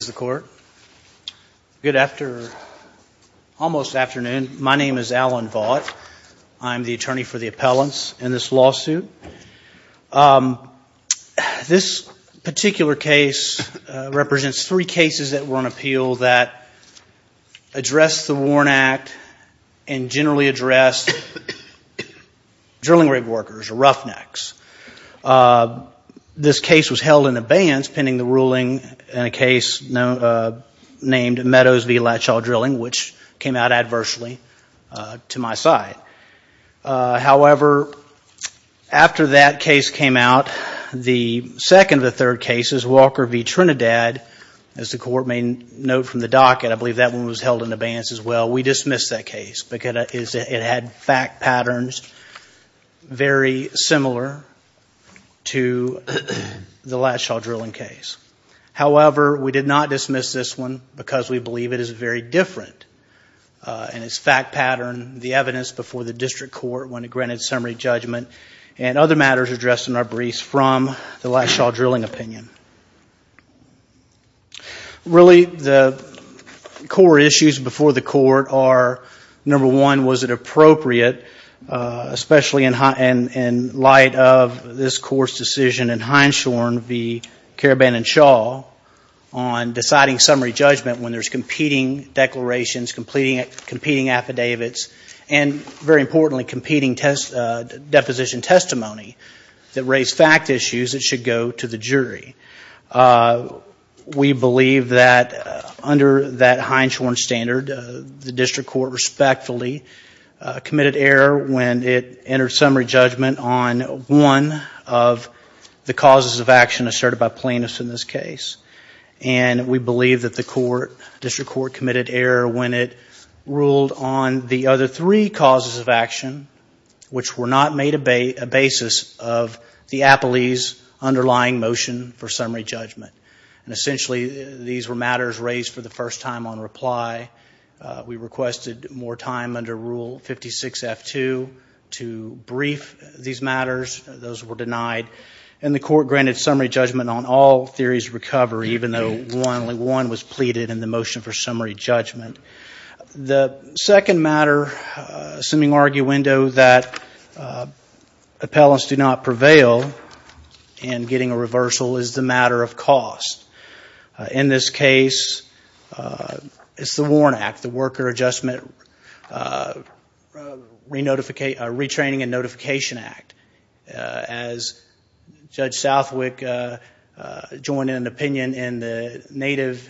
Good afternoon. My name is Alan Vaught. I'm the attorney for the appellants in this lawsuit. This particular case represents three cases that were on appeal that addressed the Warren Act and generally addressed drilling rig workers, roughnecks. This case was held in abeyance pending the ruling in a case named Meadows v. Latchaw Drilling, which came out adversely to my side. However, after that case came out, the second of the third cases, Walker v. Trinidad, as the court may note from the docket, I believe that one was held in abeyance as well, we dismissed that case because it had fact patterns very similar to the Latchaw Drilling case. However, we did not dismiss this one because we believe it is very different in its fact pattern, the evidence before the district court when it granted summary judgment, and other matters addressed in our briefs from the Latchaw Drilling opinion. Really the core issues before the court are, number one, was it appropriate, especially in light of this court's decision in Hindshorn v. Carabannon Shaw on deciding summary judgment when there's competing declarations, competing affidavits, and very importantly, competing deposition testimony that raised fact issues that should go to the jury. We believe that under that Hindshorn standard, the district court respectfully committed error when it entered summary judgment on one of the causes of action asserted by plaintiffs in this case, and we believe that the court, district court committed error when it ruled on the other three causes of action which were not made a basis of the appellee's underlying motion for summary judgment. Essentially, these were matters raised for the first time on reply. We requested more time under Rule 56F2 to brief these matters. Those were denied, and the court granted summary judgment on all theories of recovery, even though only one was pleaded in the motion for summary judgment. The second matter, assuming arguendo, that appellants do not prevail in getting a reversal is the matter of cost. In this case, it's the WARN Act, the Worker Adjustment Retraining and Notification Act. As Judge Southwick joined an opinion in the native,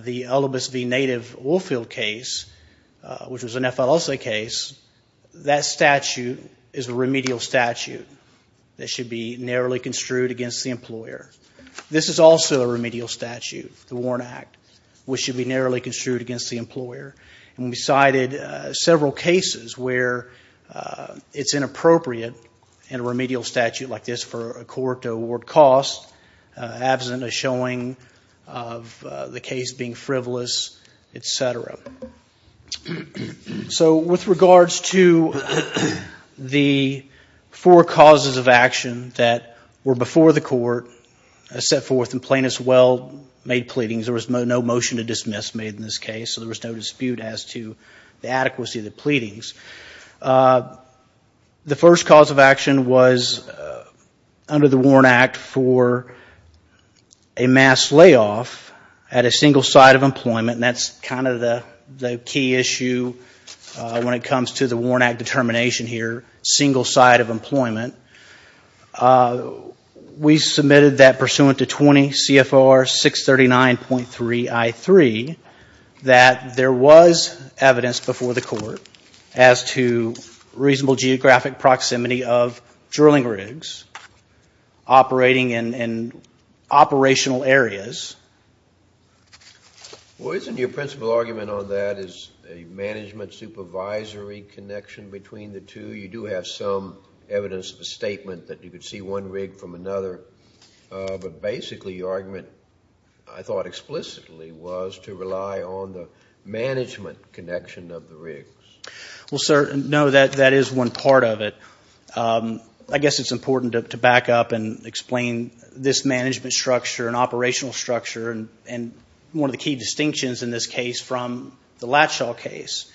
the Ulibis v. Native Woolfield case, which was an F. Alosa case, that statute is a remedial statute that should be narrowly construed against the employer. This is also a remedial statute, the WARN Act, which should be narrowly construed against the employer. We cited several cases where it's inappropriate in a remedial statute like this for a court to award cost, absent a showing of the case being frivolous, etc. So, with regards to the four causes of action that were before the court as set forth in plaintiff's well-made pleadings, there was no motion to dismiss made in this case, so there was no dispute as to the adequacy of the pleadings. The first cause of action was the key issue when it comes to the WARN Act determination here, single side of employment. We submitted that pursuant to 20 CFR 639.3 I-3, that there was evidence before the court as to reasonable geographic proximity of drilling rigs operating in operational areas. Well, isn't your principal argument on that is a management supervisory connection between the two? You do have some evidence of a statement that you could see one rig from another, but basically your argument, I thought explicitly, was to rely on the management connection of the rigs. Well, sir, no, that is one part of it. I guess it's important to back up and explain this operational structure and one of the key distinctions in this case from the Latshaw case.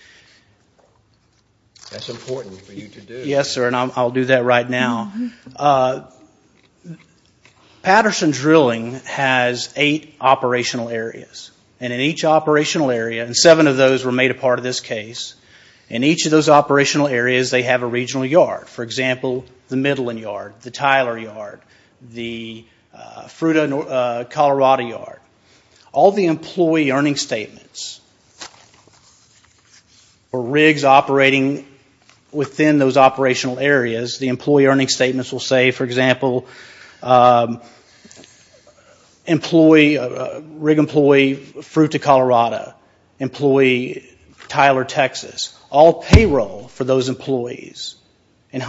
That's important for you to do. Yes, sir, and I'll do that right now. Patterson Drilling has eight operational areas, and in each operational area, and seven of those were made a part of this case, in each of those operational areas they have a regional yard. For example, the Midland Yard, the Tyler Yard, the Fruita, Colorado Yard. All the employee earning statements for rigs operating within those operational areas, the employee earning statements will say, for example, rig employee Fruita, Colorado, employee Tyler, Texas. All payroll for those employees and a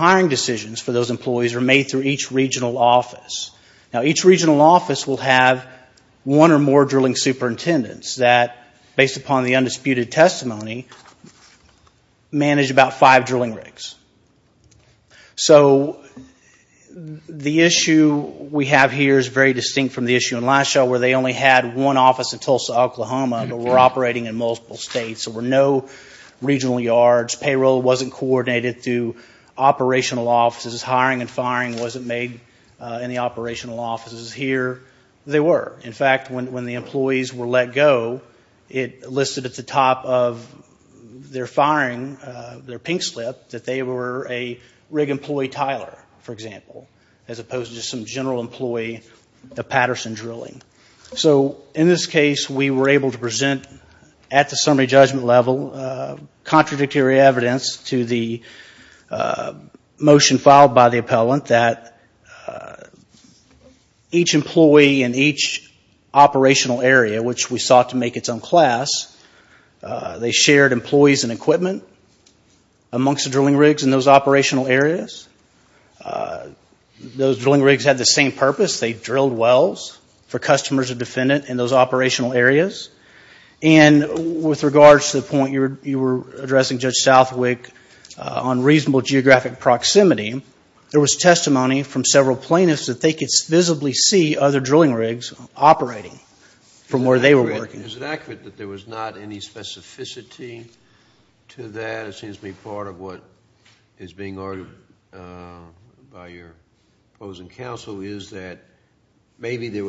regional office. Now, each regional office will have one or more drilling superintendents that, based upon the undisputed testimony, manage about five drilling rigs. So the issue we have here is very distinct from the issue in Latshaw where they only had one office in Tulsa, Oklahoma, but were operating in multiple states. There were no regional yards. Payroll wasn't coordinated through operational offices. Hiring and firing wasn't made in the operational offices here. They were. In fact, when the employees were let go, it listed at the top of their firing, their pink slip, that they were a rig employee Tyler, for example, as opposed to just some general employee of Patterson Drilling. So in this case, we were able to present, at the summary judgment level, contradictory evidence to the motion filed by the appellant that each employee in each operational area, which we sought to make its own class, they shared employees and equipment amongst the drilling rigs in those operational areas. Those drilling rigs had the same purpose. They drilled wells for customers or defendant in those operational areas. And with regards to the point you were addressing, Judge Southwick, on reasonable geographic proximity, there was testimony from several plaintiffs that they could visibly see other drilling rigs operating from where they were working. Is it accurate that there was not any specificity to that? It seems to be part of what is being argued by your opposing counsel is that maybe there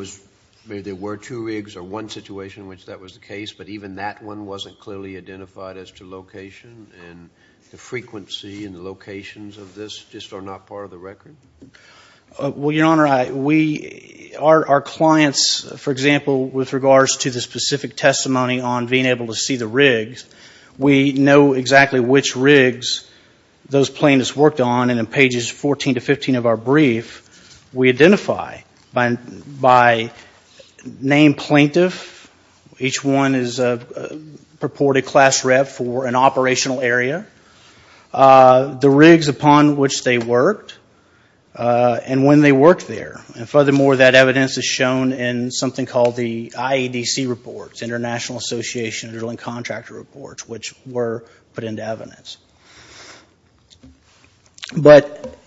were two rigs or one situation in which that was the case, but even that one wasn't clearly identified as to location and the frequency and the locations of this just are not part of the record? Well, Your Honor, we, our clients, for example, with regards to the specific testimony on being able to see the rigs, we know exactly which rigs those plaintiffs worked on and in pages 14 to 15 of our brief, we identify by name plaintiff, each one is a purported class rep for an operational area, the rigs upon which they worked and when they worked there. And furthermore, that evidence is shown in something called the IEDC reports, International Association of Drilling Contractor Reports, which were put into evidence. But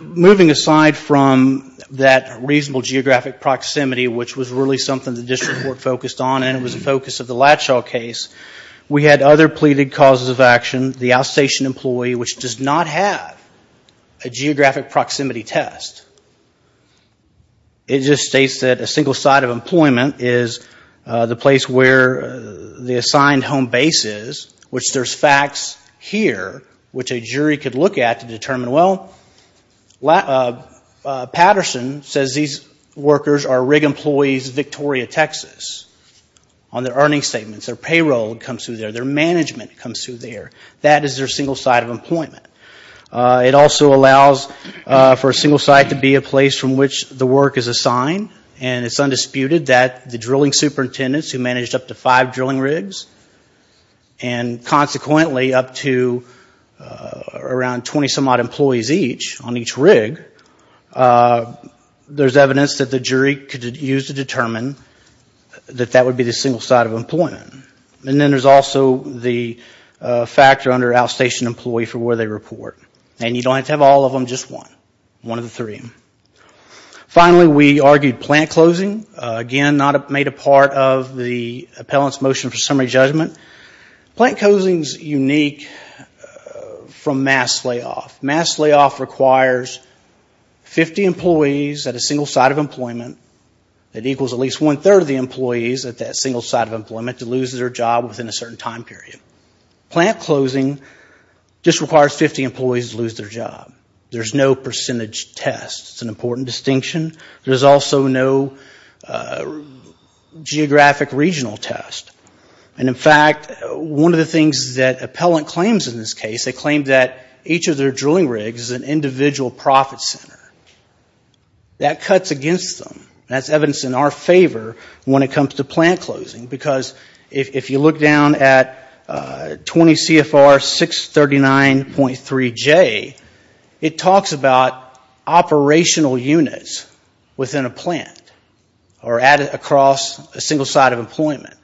moving aside from that reasonable geographic proximity, which was really something the district court focused on and it was the focus of the Latshaw case, we had other pleaded causes of action, the outstation employee, which does not have a geographic proximity test. It just states that a single site of employment is the place where the assigned home base is, which there's facts here, which a jury could look at to determine, well, Patterson says these workers are rig employees, Victoria, Texas, on their earnings statements, their payroll comes through there, their management comes through there. That is their single site of employment. It also allows for a single site to be a place from which the work is assigned and it's undisputed that the drilling superintendents who managed up to five drilling rigs and consequently up to around 20 some odd employees each on each rig, there's evidence that the jury could use to determine that that would be the single site of employment. And then there's also the factor under outstation employee for where they report. And you don't have to have all of them, just one. One of the three. Finally, we argued plant closing. Again, not made a part of the appellant's motion for summary judgment. Plant closing is unique from mass layoff. Mass layoff requires 50 employees at a single site of employment. It equals at least one-third of the employees at that single site of employment to lose their job within a certain time period. Plant closing just requires 50 employees to lose their job. There's no percentage test. It's an important distinction. There's also no geographic regional test. And in fact, one of the things that appellant claims in this case, they claim that each of their drilling rigs is an individual profit center. That cuts against them. That's evidence in our favor when it comes to plant closing. Because if you look down at 20 CFR 639.3J, it talks about operational units within a plant or across a single site of employment.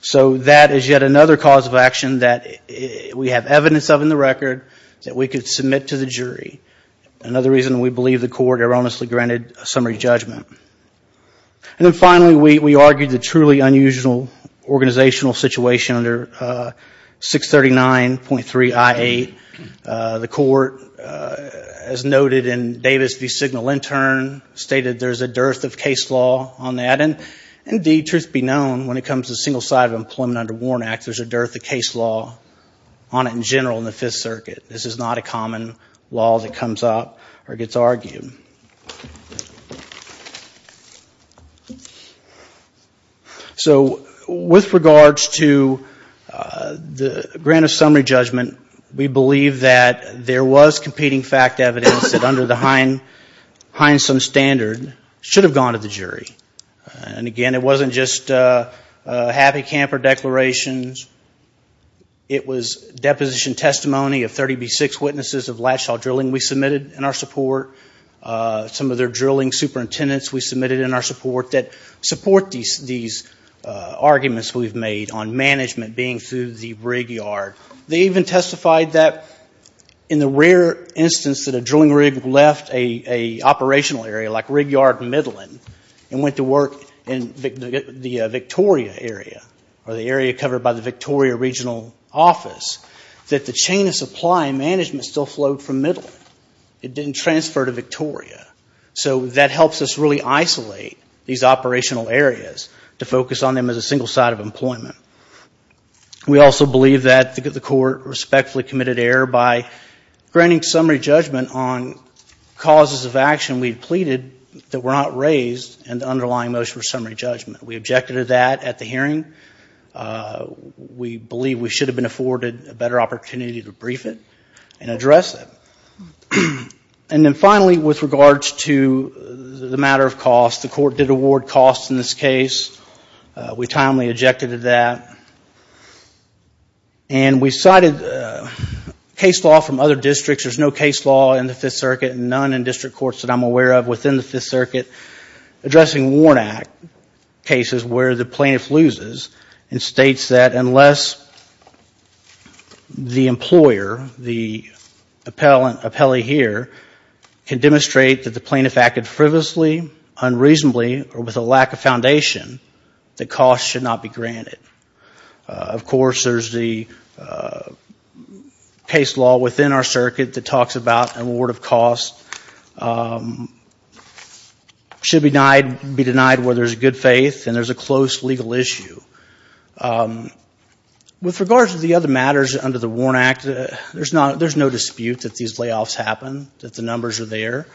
So that is yet another cause of action that we have evidence of in the record that we could submit to the jury. Another reason we believe the court erroneously granted summary judgment. And then finally, we argued the truly unusual organizational situation under 639.3I8. The court, as noted in Davis v. Signal Intern, stated there's a dearth of case law on that. And indeed, truth be known, when it comes to a single site of employment under Warren Act, there's a dearth of case law on it in general in the Fifth Circuit. This is not a common law that comes up or gets argued. So, with regards to the grant of summary judgment, we believe that there was competing fact evidence that under the Heinsohn standard should have gone to the jury. And again, it wasn't just happy camper declarations. It was deposition testimony of 30B6 witnesses of Latchaw Drilling we submitted in our support. Some of their drilling superintendents we submitted in our support that support these arguments we've made on management being through the rig yard. They even testified that in the rare instance that a drilling rig left an operational area like rig yard in Midland and went to work in the Victoria area, or the area covered by the Victoria regional office, that the chain of supply management still flowed from Midland. It didn't transfer to Victoria. So, that helps us really isolate these operational areas to focus on them as a single site of employment. We also believe that the court respectfully committed error by granting summary judgment on causes of action we pleaded that were not raised in the underlying motion for summary judgment. We objected to that at the hearing. We believe we should have been afforded a better opportunity to brief it and address it. And then finally, with regards to the matter of cost, the court did award costs in this case. We timely objected to that. And we cited case law from other districts. There's no case law in the Fifth Circuit and none in district courts that I'm aware of within the Fifth Circuit addressing Warnock cases where the plaintiff loses and states that unless the employer, the appellee here, can demonstrate that the plaintiff acted frivolously, unreasonably, or with a lack of foundation, the cost should not be granted. Of course, there's the case law within our circuit that talks about an award of cost. Should be denied where there's good faith and there's a close legal issue. With regards to the other matters under the Warnock Act, there's no dispute that these layoffs happen, that the numbers are there.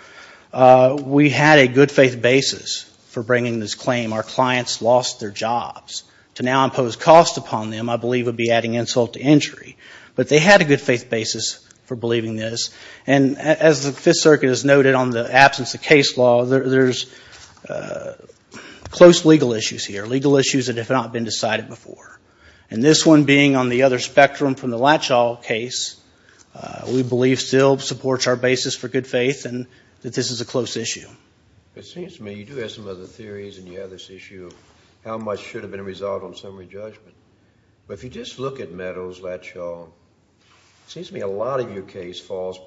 We had a good faith basis for bringing this claim, our clients lost their jobs. To now impose costs upon them, I believe, would be adding insult to injury. But they had a good faith basis for believing this. And as the Fifth Circuit has noted on the absence of case law, there's close legal issues here, legal issues that have not been decided before. And this one being on the other spectrum from the Latchaw case, we believe still supports our basis for good faith and that this is a close issue. It seems to me you do have some other theories and you have this issue of how much should have been resolved on summary judgment. But if you just look at Meadows-Latchaw, it seems to me a lot of your case falls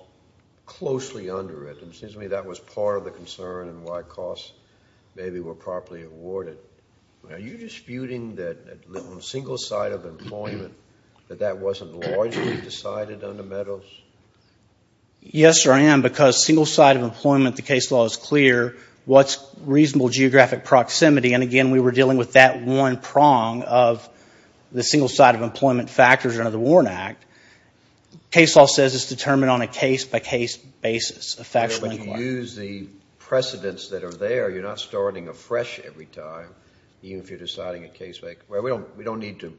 closely under it. And it seems to me that was part of the concern and why costs maybe were properly awarded. Are you disputing that on a single side of employment, that that wasn't largely decided under Meadows? Yes, sir, I am. Because single side of employment, the case law is clear. What's reasonable geographic proximity? And again, we were dealing with that one prong of the single side of employment factors under the Warren Act. Case law says it's determined on a case by case basis, a factual inquiry. But if you use the precedents that are there, you're not starting afresh every time, even if you're deciding a case by case. We don't need to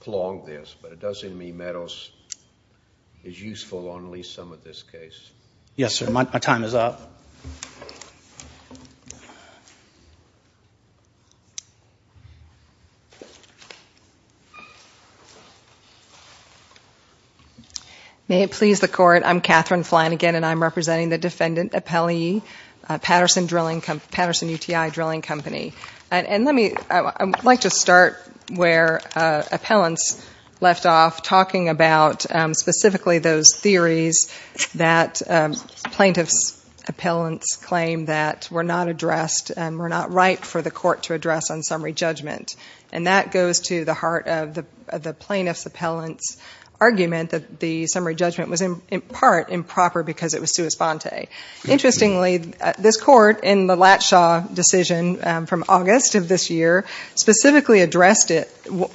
clog this, but it does seem to me Meadows is useful on at least some of this case. Yes, sir. My time is up. May it please the Court, I'm Catherine Flanagan and I'm representing the defendant appellee, Patterson UTI Drilling Company. And let me, I'd like to start where appellants left off, talking about specifically those theories that plaintiff's appellants claim that were not addressed and were not right for the court to address on summary judgment. And that goes to the heart of the plaintiff's appellant's argument that the summary judgment was in part improper because it was sua sponte. Interestingly, this court, in the Latshaw decision from August of this year, specifically addressed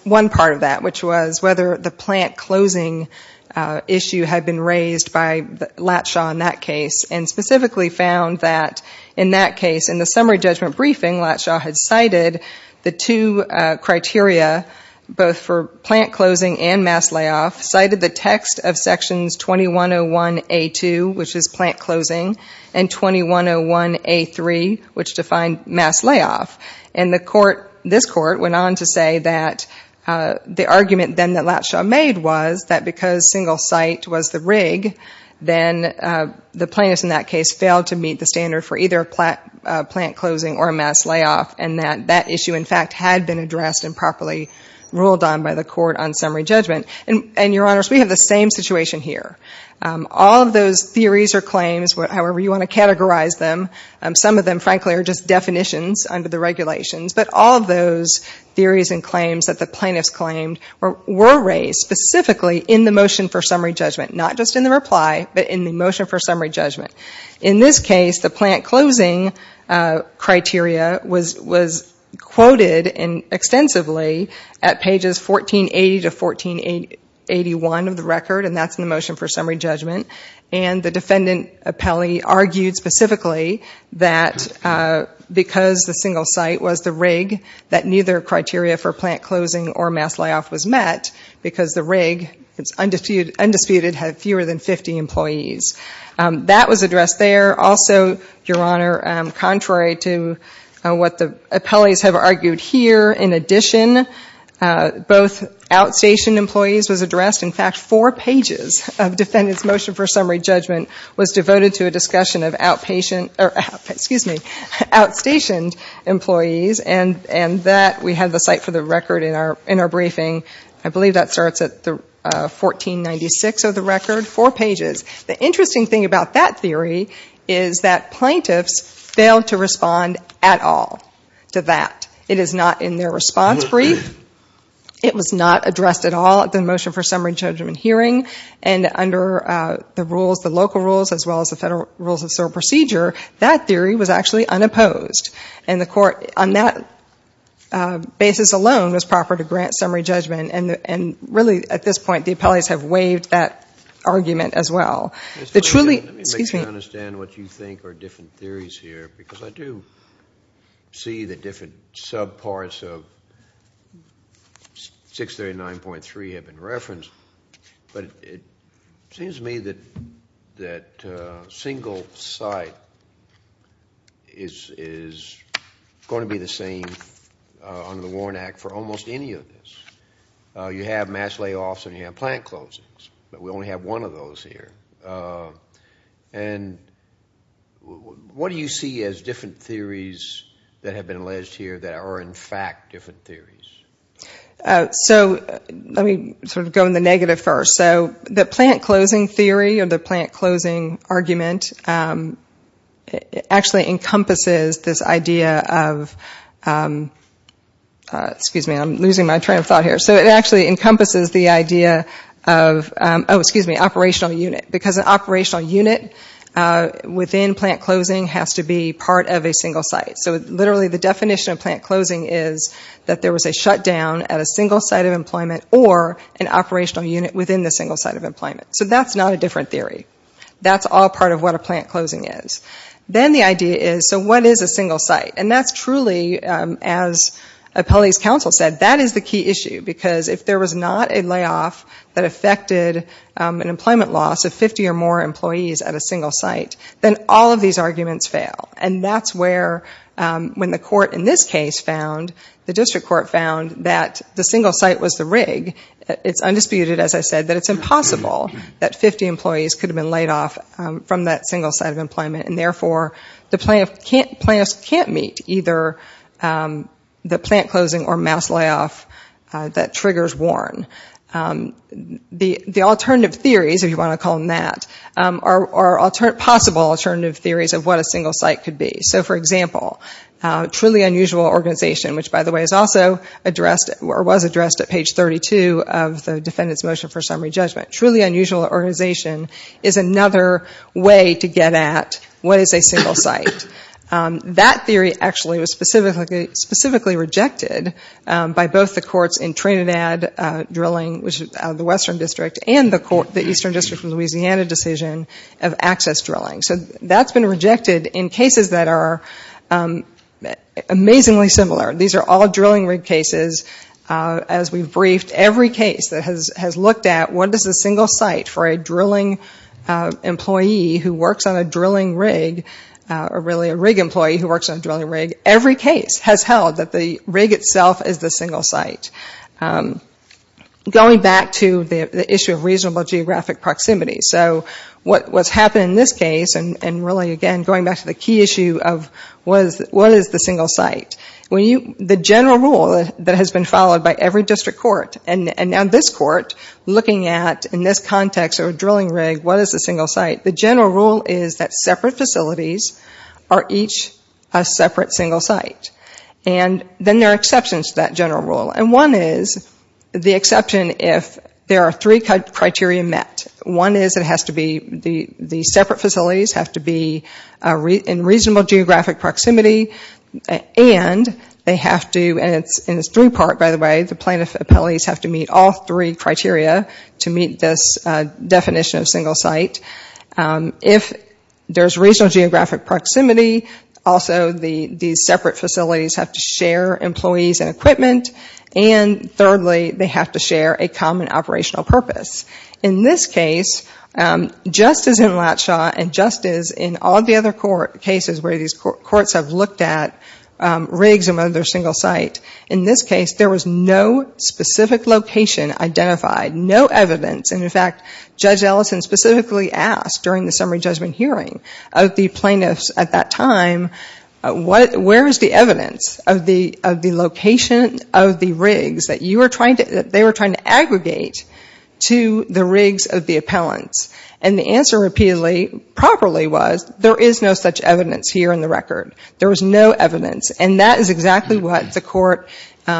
one part of that, which was whether the plant closing issue had been raised by Latshaw in that case. And specifically found that in that case, in the summary judgment briefing, Latshaw had cited the two criteria, both for plant closing and mass layoff, cited the text of sections 2101A2, which is plant closing. And 2101A3, which defined mass layoff. And the court, this court, went on to say that the argument then that Latshaw made was that because single site was the rig, then the plaintiffs in that case failed to meet the standard for either plant closing or mass layoff. And that that issue, in fact, had been addressed and properly ruled on by the court on summary judgment. And, Your Honors, we have the same situation here. All of those theories or claims, however you want to categorize them, some of them, frankly, are just definitions under the regulations. But all of those theories and claims that the plaintiffs claimed were raised specifically in the motion for summary judgment. Not just in the reply, but in the motion for summary judgment. In this case, the plant closing criteria was quoted extensively at pages 1480 to 1481 of the record, and that's in the motion for summary judgment. And the defendant, Appelli, argued specifically that because the single site was the rig, that neither criteria for plant closing or mass layoff was met, because the rig, it's undisputed, had fewer than 50 employees. That was addressed there. Also, Your Honor, contrary to what the Appellis have argued here, in addition, both outstation employees was addressed. In fact, four pages of defendant's motion for summary judgment was devoted to a discussion of outpatient, or excuse me, outstationed employees. And that, we have the site for the record in our briefing. I believe that starts at 1496 of the record, four pages. The interesting thing about that theory is that plaintiffs failed to respond at all to that. It is not in their response brief. It was not addressed at all at the motion for summary judgment hearing. And under the rules, the local rules, as well as the federal rules of procedure, that theory was actually unopposed. And the court, on that basis alone, was proper to grant summary judgment. And really, at this point, the Appellis have waived that argument as well. Let me make sure I understand what you think are different theories here, because I do see the different sub parts of 639.3 have been referenced. It seems to me that single site is going to be the same under the Warren Act for almost any of this. You have mass layoffs and you have plant closings, but we only have one of those here. And what do you see as different theories that have been alleged here that are, in fact, different theories? Let me go in the negative first. The plant closing theory, or the plant closing argument, actually encompasses this idea of... Operational unit, because an operational unit within plant closing has to be part of a single site. So literally, the definition of plant closing is that there was a shutdown at a single site of employment, or an operational unit within the single site of employment. So that's not a different theory. That's all part of what a plant closing is. Then the idea is, so what is a single site? And that's truly, as Appellis counsel said, that is the key issue. Because if there was not a layoff that affected an employment loss of 50 or more employees at a single site, then all of these arguments fail. And that's where, when the court in this case found, the district court found, that the single site was the rig. It's undisputed, as I said, that it's impossible that 50 employees could have been laid off from that single site of employment. And therefore, the plaintiff can't meet either the plant closing or mass layoff that triggers Warren. The alternative theories, if you want to call them that, are possible alternative theories of what a single site could be. So for example, truly unusual organization, which by the way is also addressed, or was addressed at page 32 of the defendant's motion for summary judgment. Truly unusual organization is another way to get at what is a single site. That theory actually was specifically rejected by both the courts in Trinidad Drilling, which is out of the Western District, and the Eastern District from Louisiana decision of access drilling. So that's been rejected in cases that are amazingly similar. These are all drilling rig cases. As we've briefed, every case that has looked at what is a single site for a drilling employee who works on a drilling rig, or drilling rig, really a rig employee who works on a drilling rig, every case has held that the rig itself is the single site. Going back to the issue of reasonable geographic proximity. So what's happened in this case, and really again going back to the key issue of what is the single site. The general rule that has been followed by every district court, and now this court, looking at, in this context of a drilling rig, what is a single site. The general rule is that separate facilities are each a separate single site. Then there are exceptions to that general rule. One is the exception if there are three criteria met. One is the separate facilities have to be in reasonable geographic proximity, and they have to, and it's three part by the way, the plaintiff appellees have to meet all three criteria to meet this definition of single site. If there's reasonable geographic proximity, also these separate facilities have to share employees and equipment. And thirdly, they have to share a common operational purpose. In this case, just as in Latshaw, and just as in all the other cases where these courts have looked at rigs among their single site, in this case there was no specific location identified, no evidence. And in fact, Judge Ellison specifically asked during the summary judgment hearing of the plaintiffs at that time, where is the evidence of the location of the rigs that they were trying to aggregate to the rigs of the appellants? And the answer repeatedly, properly was, there is no such evidence here in the record. There was no evidence. And that is exactly what the court,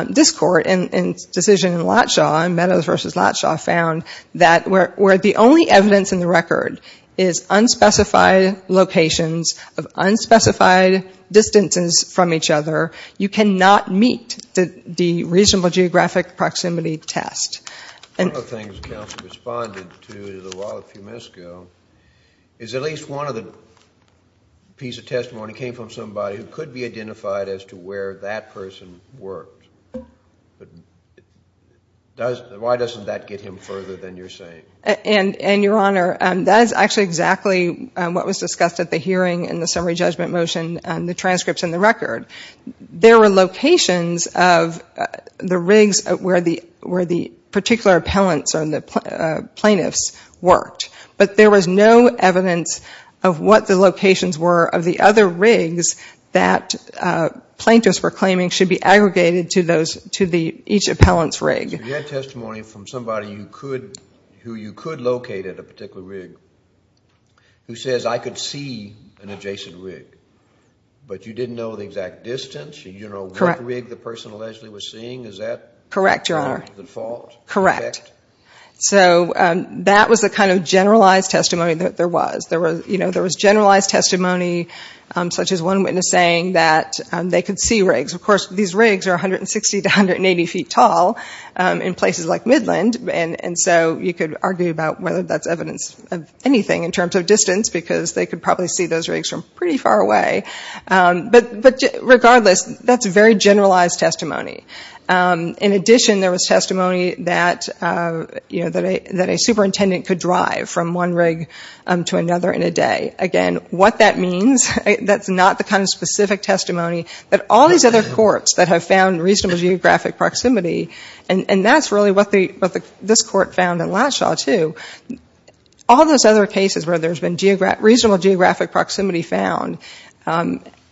this court, in its decision in Latshaw, in Meadows v. Latshaw, found, that where the only evidence in the record is unspecified locations of unspecified distances from each other, you cannot meet the reasonable geographic proximity test. One of the things the counsel responded to a little while, a few minutes ago, is at least one of the pieces of testimony came from somebody who could be identified as a single site. And that person could be identified as to where that person worked. Why doesn't that get him further than you're saying? And, Your Honor, that is actually exactly what was discussed at the hearing in the summary judgment motion, the transcripts in the record. There were locations of the rigs where the particular appellants or the plaintiffs worked. But there was no evidence of what the locations were of the other rigs that plaintiffs were claiming should be aggregated to each appellant's rig. So you had testimony from somebody who you could locate at a particular rig, who says, I could see an adjacent rig, but you didn't know the exact distance? You didn't know what rig the person allegedly was seeing? Is that part of the fault? Correct. So that was the kind of generalized testimony that there was. There was generalized testimony, such as one witness saying that they could see rigs. Of course, these rigs are 160 to 180 feet tall in places like Midland, and so you could argue about whether that's evidence of anything in terms of distance, because they could probably see those rigs from pretty far away. But regardless, that's very generalized testimony. In addition, there was testimony that a superintendent could drive from one rig to another in a day. Again, what that means, that's not the kind of specific testimony. But all these other courts that have found reasonable geographic proximity, and that's really what this court found in Latshaw, too. All those other cases where there's been reasonable geographic proximity found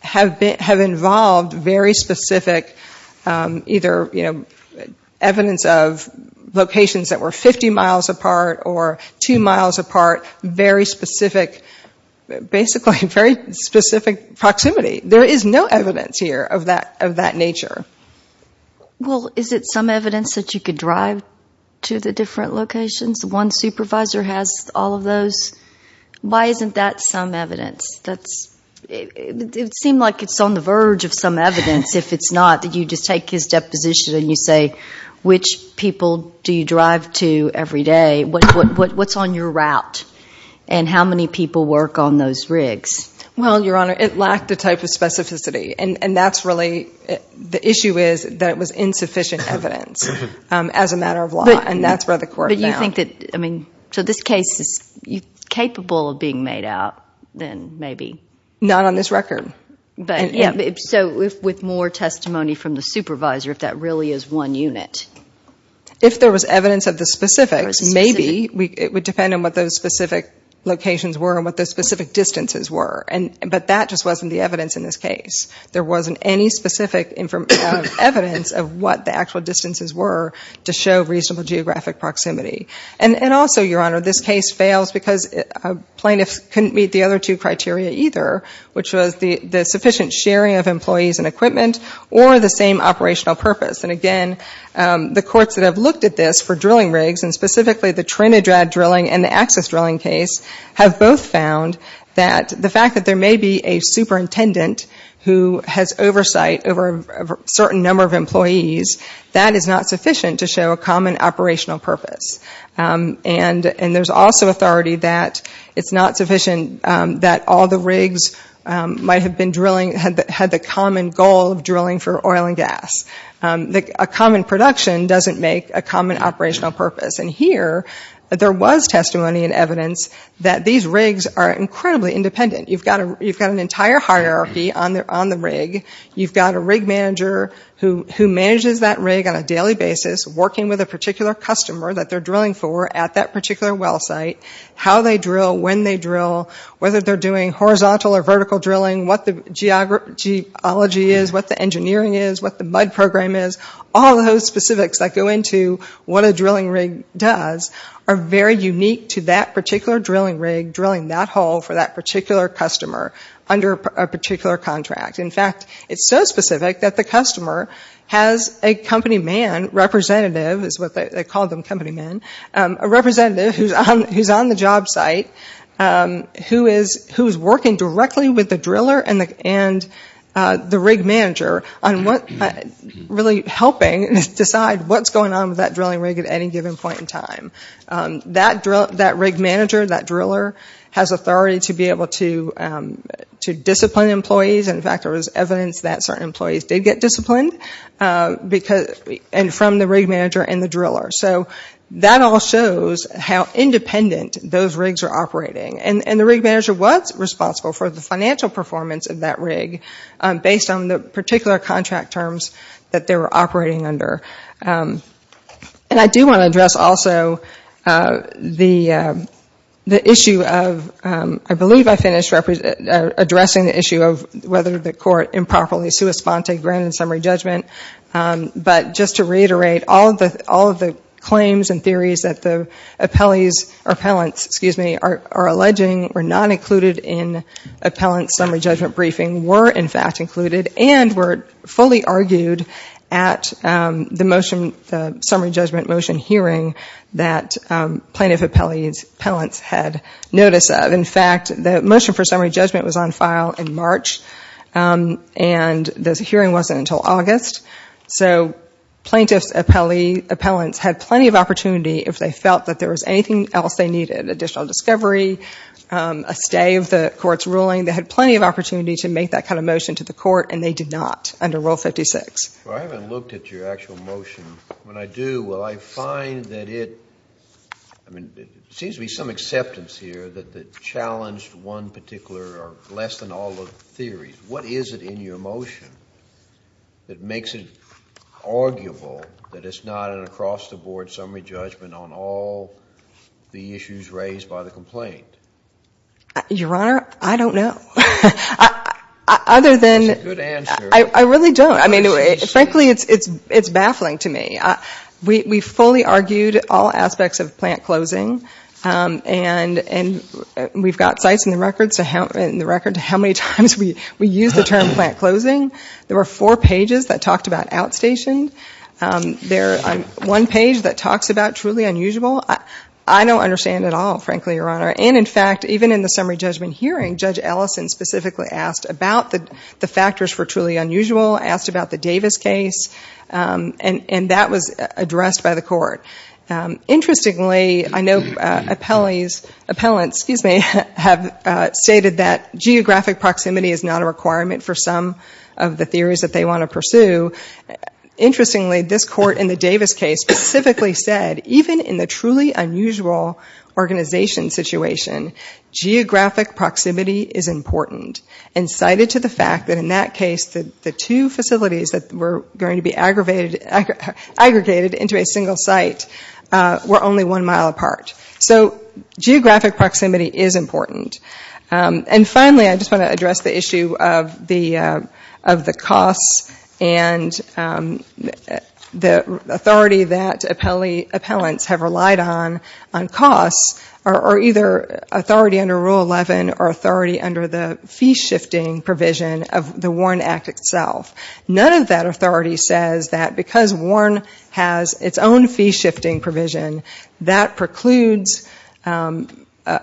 have involved very specific, either evidence of locations that were 50 miles apart or two miles apart, very specific proximity. There is no evidence here of that nature. Well, is it some evidence that you could drive to the different locations? One supervisor has all of those. Why isn't that some evidence? It would seem like it's on the verge of some evidence, if it's not, that you just take his deposition and you say, which people do you drive to every day, what's on your route, and how many people work on those rigs? Well, Your Honor, it lacked a type of specificity, and that's really, the issue is that it was insufficient evidence as a matter of law, and that's where the court found. But you think that, I mean, so this case is capable of being made out, then maybe. Not on this record. But, yeah, so with more testimony from the supervisor, if that really is one unit. If there was evidence of the specifics, maybe, it would depend on what those specific locations were and what those specific distances were. But that just wasn't the evidence in this case. There wasn't any specific evidence of what the actual distances were to show reasonable geographic proximity. And also, Your Honor, this case fails because plaintiffs couldn't meet the other two criteria either, which was the sufficient sharing of employees and equipment, or the same operational purpose. And again, the courts that have looked at this for drilling rigs, and specifically the Trinidad drilling and the Axis drilling case, have both found that the fact that there may be a superintendent who has oversight over a certain number of employees, that is not sufficient to show a common operational purpose. And there's also authority that it's not sufficient that all the rigs might have been drilling, had the common goal of drilling for oil and gas. A common production doesn't make a common operational purpose. And here, there was testimony and evidence that these rigs are incredibly independent. You've got an entire hierarchy on the rig. You've got a rig manager who manages that rig on a daily basis, working with a particular customer that they're drilling for at that particular well site. How they drill, when they drill, whether they're doing horizontal or vertical drilling, what the geology is, what the engineering is, what the mud program is. All those specifics that go into what a drilling rig does are very unique to that particular drilling rig drilling that hole for that particular customer under a particular contract. In fact, it's so specific that the customer has a company man representative, is what they call them, company men. A representative who's on the job site, who's working directly with the driller and the rig manager on what really helps them to get the rig right. Helping decide what's going on with that drilling rig at any given point in time. That rig manager, that driller, has authority to be able to discipline employees. In fact, there was evidence that certain employees did get disciplined from the rig manager and the driller. That all shows how independent those rigs are operating. And the rig manager was responsible for the financial performance of that rig based on the particular contract terms that they were operating under. And I do want to address also the issue of, I believe I finished addressing the issue of whether the court improperly sui sponte granted summary judgment. But just to reiterate, all of the claims and theories that the appellants are alleging were not included in appellant summary judgment briefing were, in fact, included. And were fully argued at the motion, the summary judgment motion hearing that plaintiff appellants had notice of. In fact, the motion for summary judgment was on file in March. And the hearing wasn't until August. So plaintiff's appellants had plenty of opportunity if they felt that there was anything else they needed, additional discovery, a stay of the court's ruling. They had plenty of opportunity to make that kind of motion to the court. And they did not under Rule 56. Well, I haven't looked at your actual motion. When I do, well, I find that it seems to be some acceptance here that challenged one particular or less than all of the theories. What is it in your motion that makes it arguable that it's not an across-the-board summary judgment on all the issues raised by the complaint? Your Honor, I don't know. I really don't. I mean, frankly, it's baffling to me. We fully argued all aspects of plant closing. And we've got sites in the record to how many times we used the term plant closing. There were four pages that talked about outstation. One page that talks about truly unusual. I don't understand at all, frankly, Your Honor. And in fact, even in the summary judgment hearing, Judge Ellison specifically asked about the factors for truly unusual, asked about the Davis case. And that was addressed by the court. Interestingly, I know appellants have stated that geographic proximity is not a requirement for some of the theories that they want to pursue. Interestingly, this court in the Davis case specifically said, even in the truly unusual organization situation, geographic proximity is important. And cited to the fact that in that case, the two facilities that were going to be aggregated into a single site, were only one mile apart. So geographic proximity is important. And finally, I just want to address the issue of the costs and the authority that appellants have relied on on costs, or either authority under Rule 11 or authority under the fee shifting provision of the Warren Act itself. None of that authority says that because Warren has its own fee shifting provision, that precludes an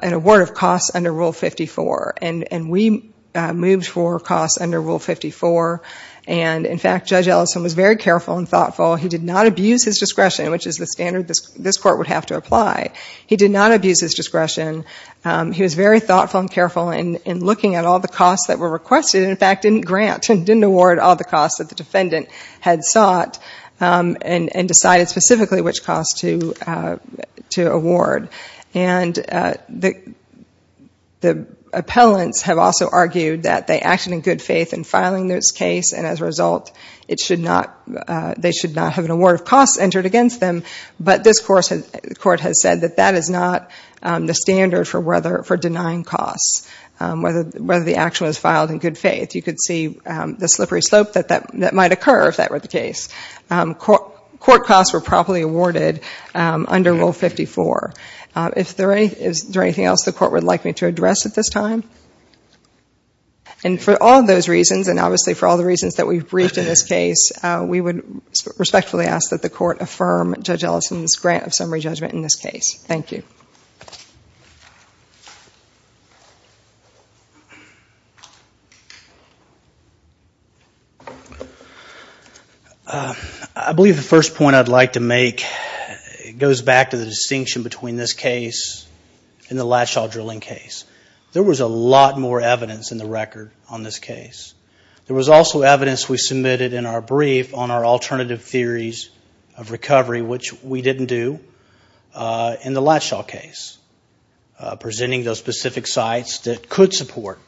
award of costs under Rule 54. And we moved for costs under Rule 54. And in fact, Judge Ellison was very careful and thoughtful. He did not abuse his discretion, which is the standard this court would have to apply. He did not abuse his discretion. He was very thoughtful and careful in looking at all the costs that were requested, and in fact didn't grant, didn't award all the costs that the defendant had sought, and decided specifically which costs to award. And the appellants have also argued that they acted in good faith in filing this case, and as a result, they should not have an award of costs entered against them. But this court has said that that is not the standard for denying costs, whether the action was filed in good faith. Court costs were properly awarded under Rule 54. Is there anything else the court would like me to address at this time? And for all those reasons, and obviously for all the reasons that we've briefed in this case, we would respectfully ask that the court affirm Judge Ellison's grant of summary judgment in this case. Thank you. I believe the first point I'd like to make goes back to the distinction between this case and the Latshaw drilling case. There was a lot more evidence in the record on this case. There was also evidence we submitted in our brief on our alternative theories of recovery, which we didn't do in the Latshaw case, presenting those specific sites that could support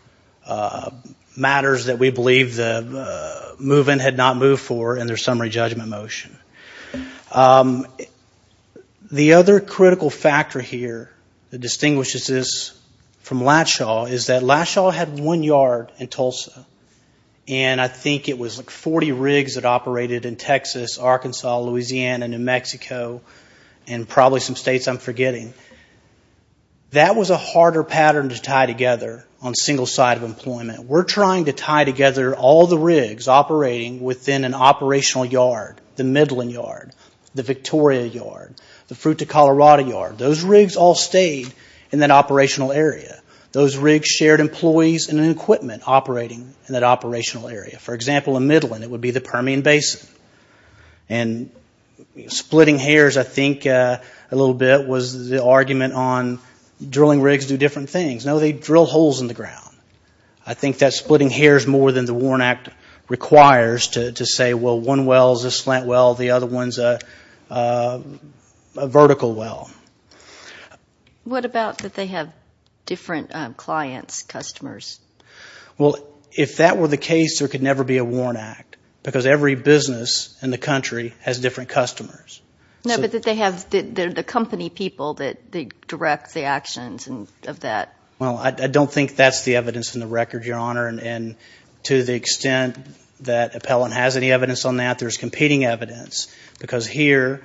matters that we believe the move-in had not moved for in their summary judgment motion. The other critical factor here that distinguishes this from Latshaw is that Latshaw had one yard in Tulsa, and I think it was like 40 rigs that operated in Texas, Arkansas, Louisiana, New Mexico, and probably some states I'm forgetting. That was a harder pattern to tie together on single side of employment. The Operational Yard, the Midland Yard, the Victoria Yard, the Fruit to Colorado Yard, those rigs all stayed in that operational area. Those rigs shared employees and equipment operating in that operational area. For example, in Midland, it would be the Permian Basin. And splitting hairs, I think, a little bit was the argument on drilling rigs do different things. No, they drill holes in the ground. I think that splitting hairs more than the WARN Act requires to say, well, one well is a slant well, the other one is a vertical well. What about that they have different clients, customers? Well, if that were the case, there could never be a WARN Act, because every business in the country has different customers. No, but they're the company people that direct the actions of that. Well, I don't think that's the evidence in the record, Your Honor, and to the extent that appellant has any evidence on that, there's competing evidence. Because here,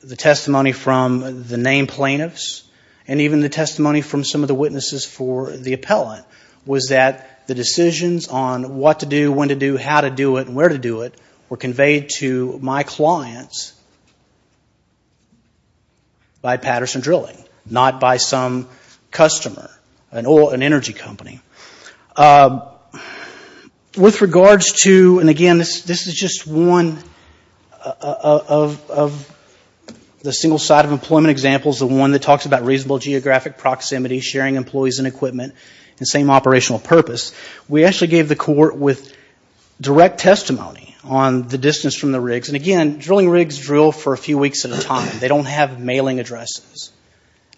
the testimony from the named plaintiffs and even the testimony from some of the witnesses for the appellant was that the decisions on what to do, when to do, how to do it, and where to do it were conveyed to my clients by Patterson Drilling, not by some customer, an oil and energy company. With regards to, and again, this is just one of the single side of employment examples, the one that talks about reasonable geographic proximity, sharing employees and equipment, and same operational purpose. We actually gave the court with direct testimony on the distance from the rigs. And again, drilling rigs drill for a few weeks at a time. They don't have mailing addresses.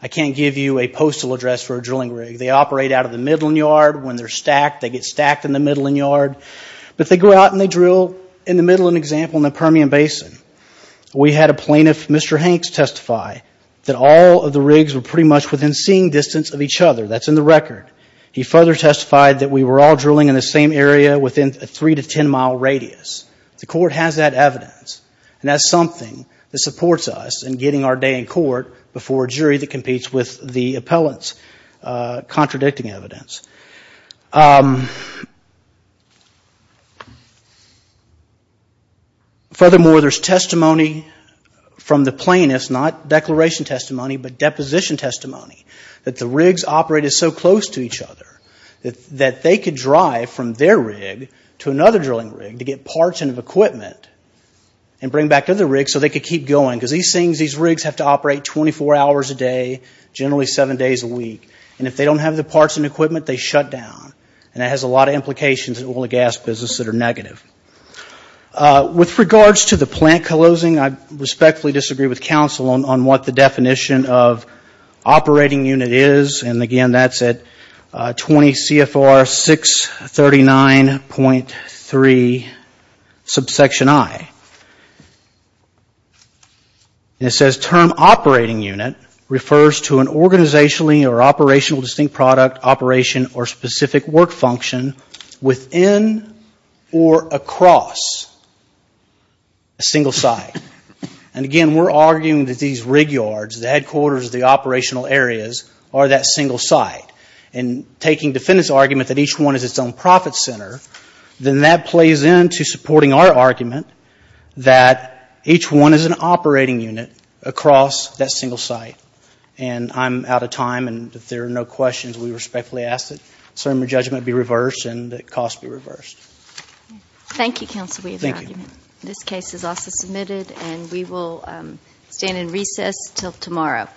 I can't give you a postal address for a drilling rig. They operate out of the Midland Yard. When they're stacked, they get stacked in the Midland Yard. But they go out and they drill, in the Midland example, in the Permian Basin. We had a plaintiff, Mr. Hanks, testify that all of the rigs were pretty much within seeing distance of each other. That's in the record. He further testified that we were all drilling in the same area within a 3 to 10 mile radius. The court has that evidence. And that's something that supports us in getting our day in court before a jury that competes with the appellant's for predicting evidence. Furthermore, there's testimony from the plaintiffs, not declaration testimony, but deposition testimony, that the rigs operated so close to each other that they could drive from their rig to another drilling rig to get parts and equipment and bring back to the rig so they could keep going. Because these rigs have to operate 24 hours a day, generally 7 days a week. And if they don't have the parts and equipment, they shut down. And it has a lot of implications in the oil and gas business that are negative. With regards to the plant closing, I respectfully disagree with counsel on what the definition of operating unit is. And again, that's at 20 CFR 639.3 subsection I. And it says, term operating unit refers to an organizationally or operational distinct product, operation, or specific work function within or across a single site. And again, we're arguing that these rig yards, the headquarters, the operational areas are that single site. And taking defendant's argument that each one is its own profit center, then that plays into supporting our argument that each one is an operating unit across that single site. And I'm out of time. And if there are no questions, we respectfully ask that the judgment be reversed and the cost be reversed. Thank you, counsel. We have an argument. This case is also submitted and we will stand in recess until tomorrow.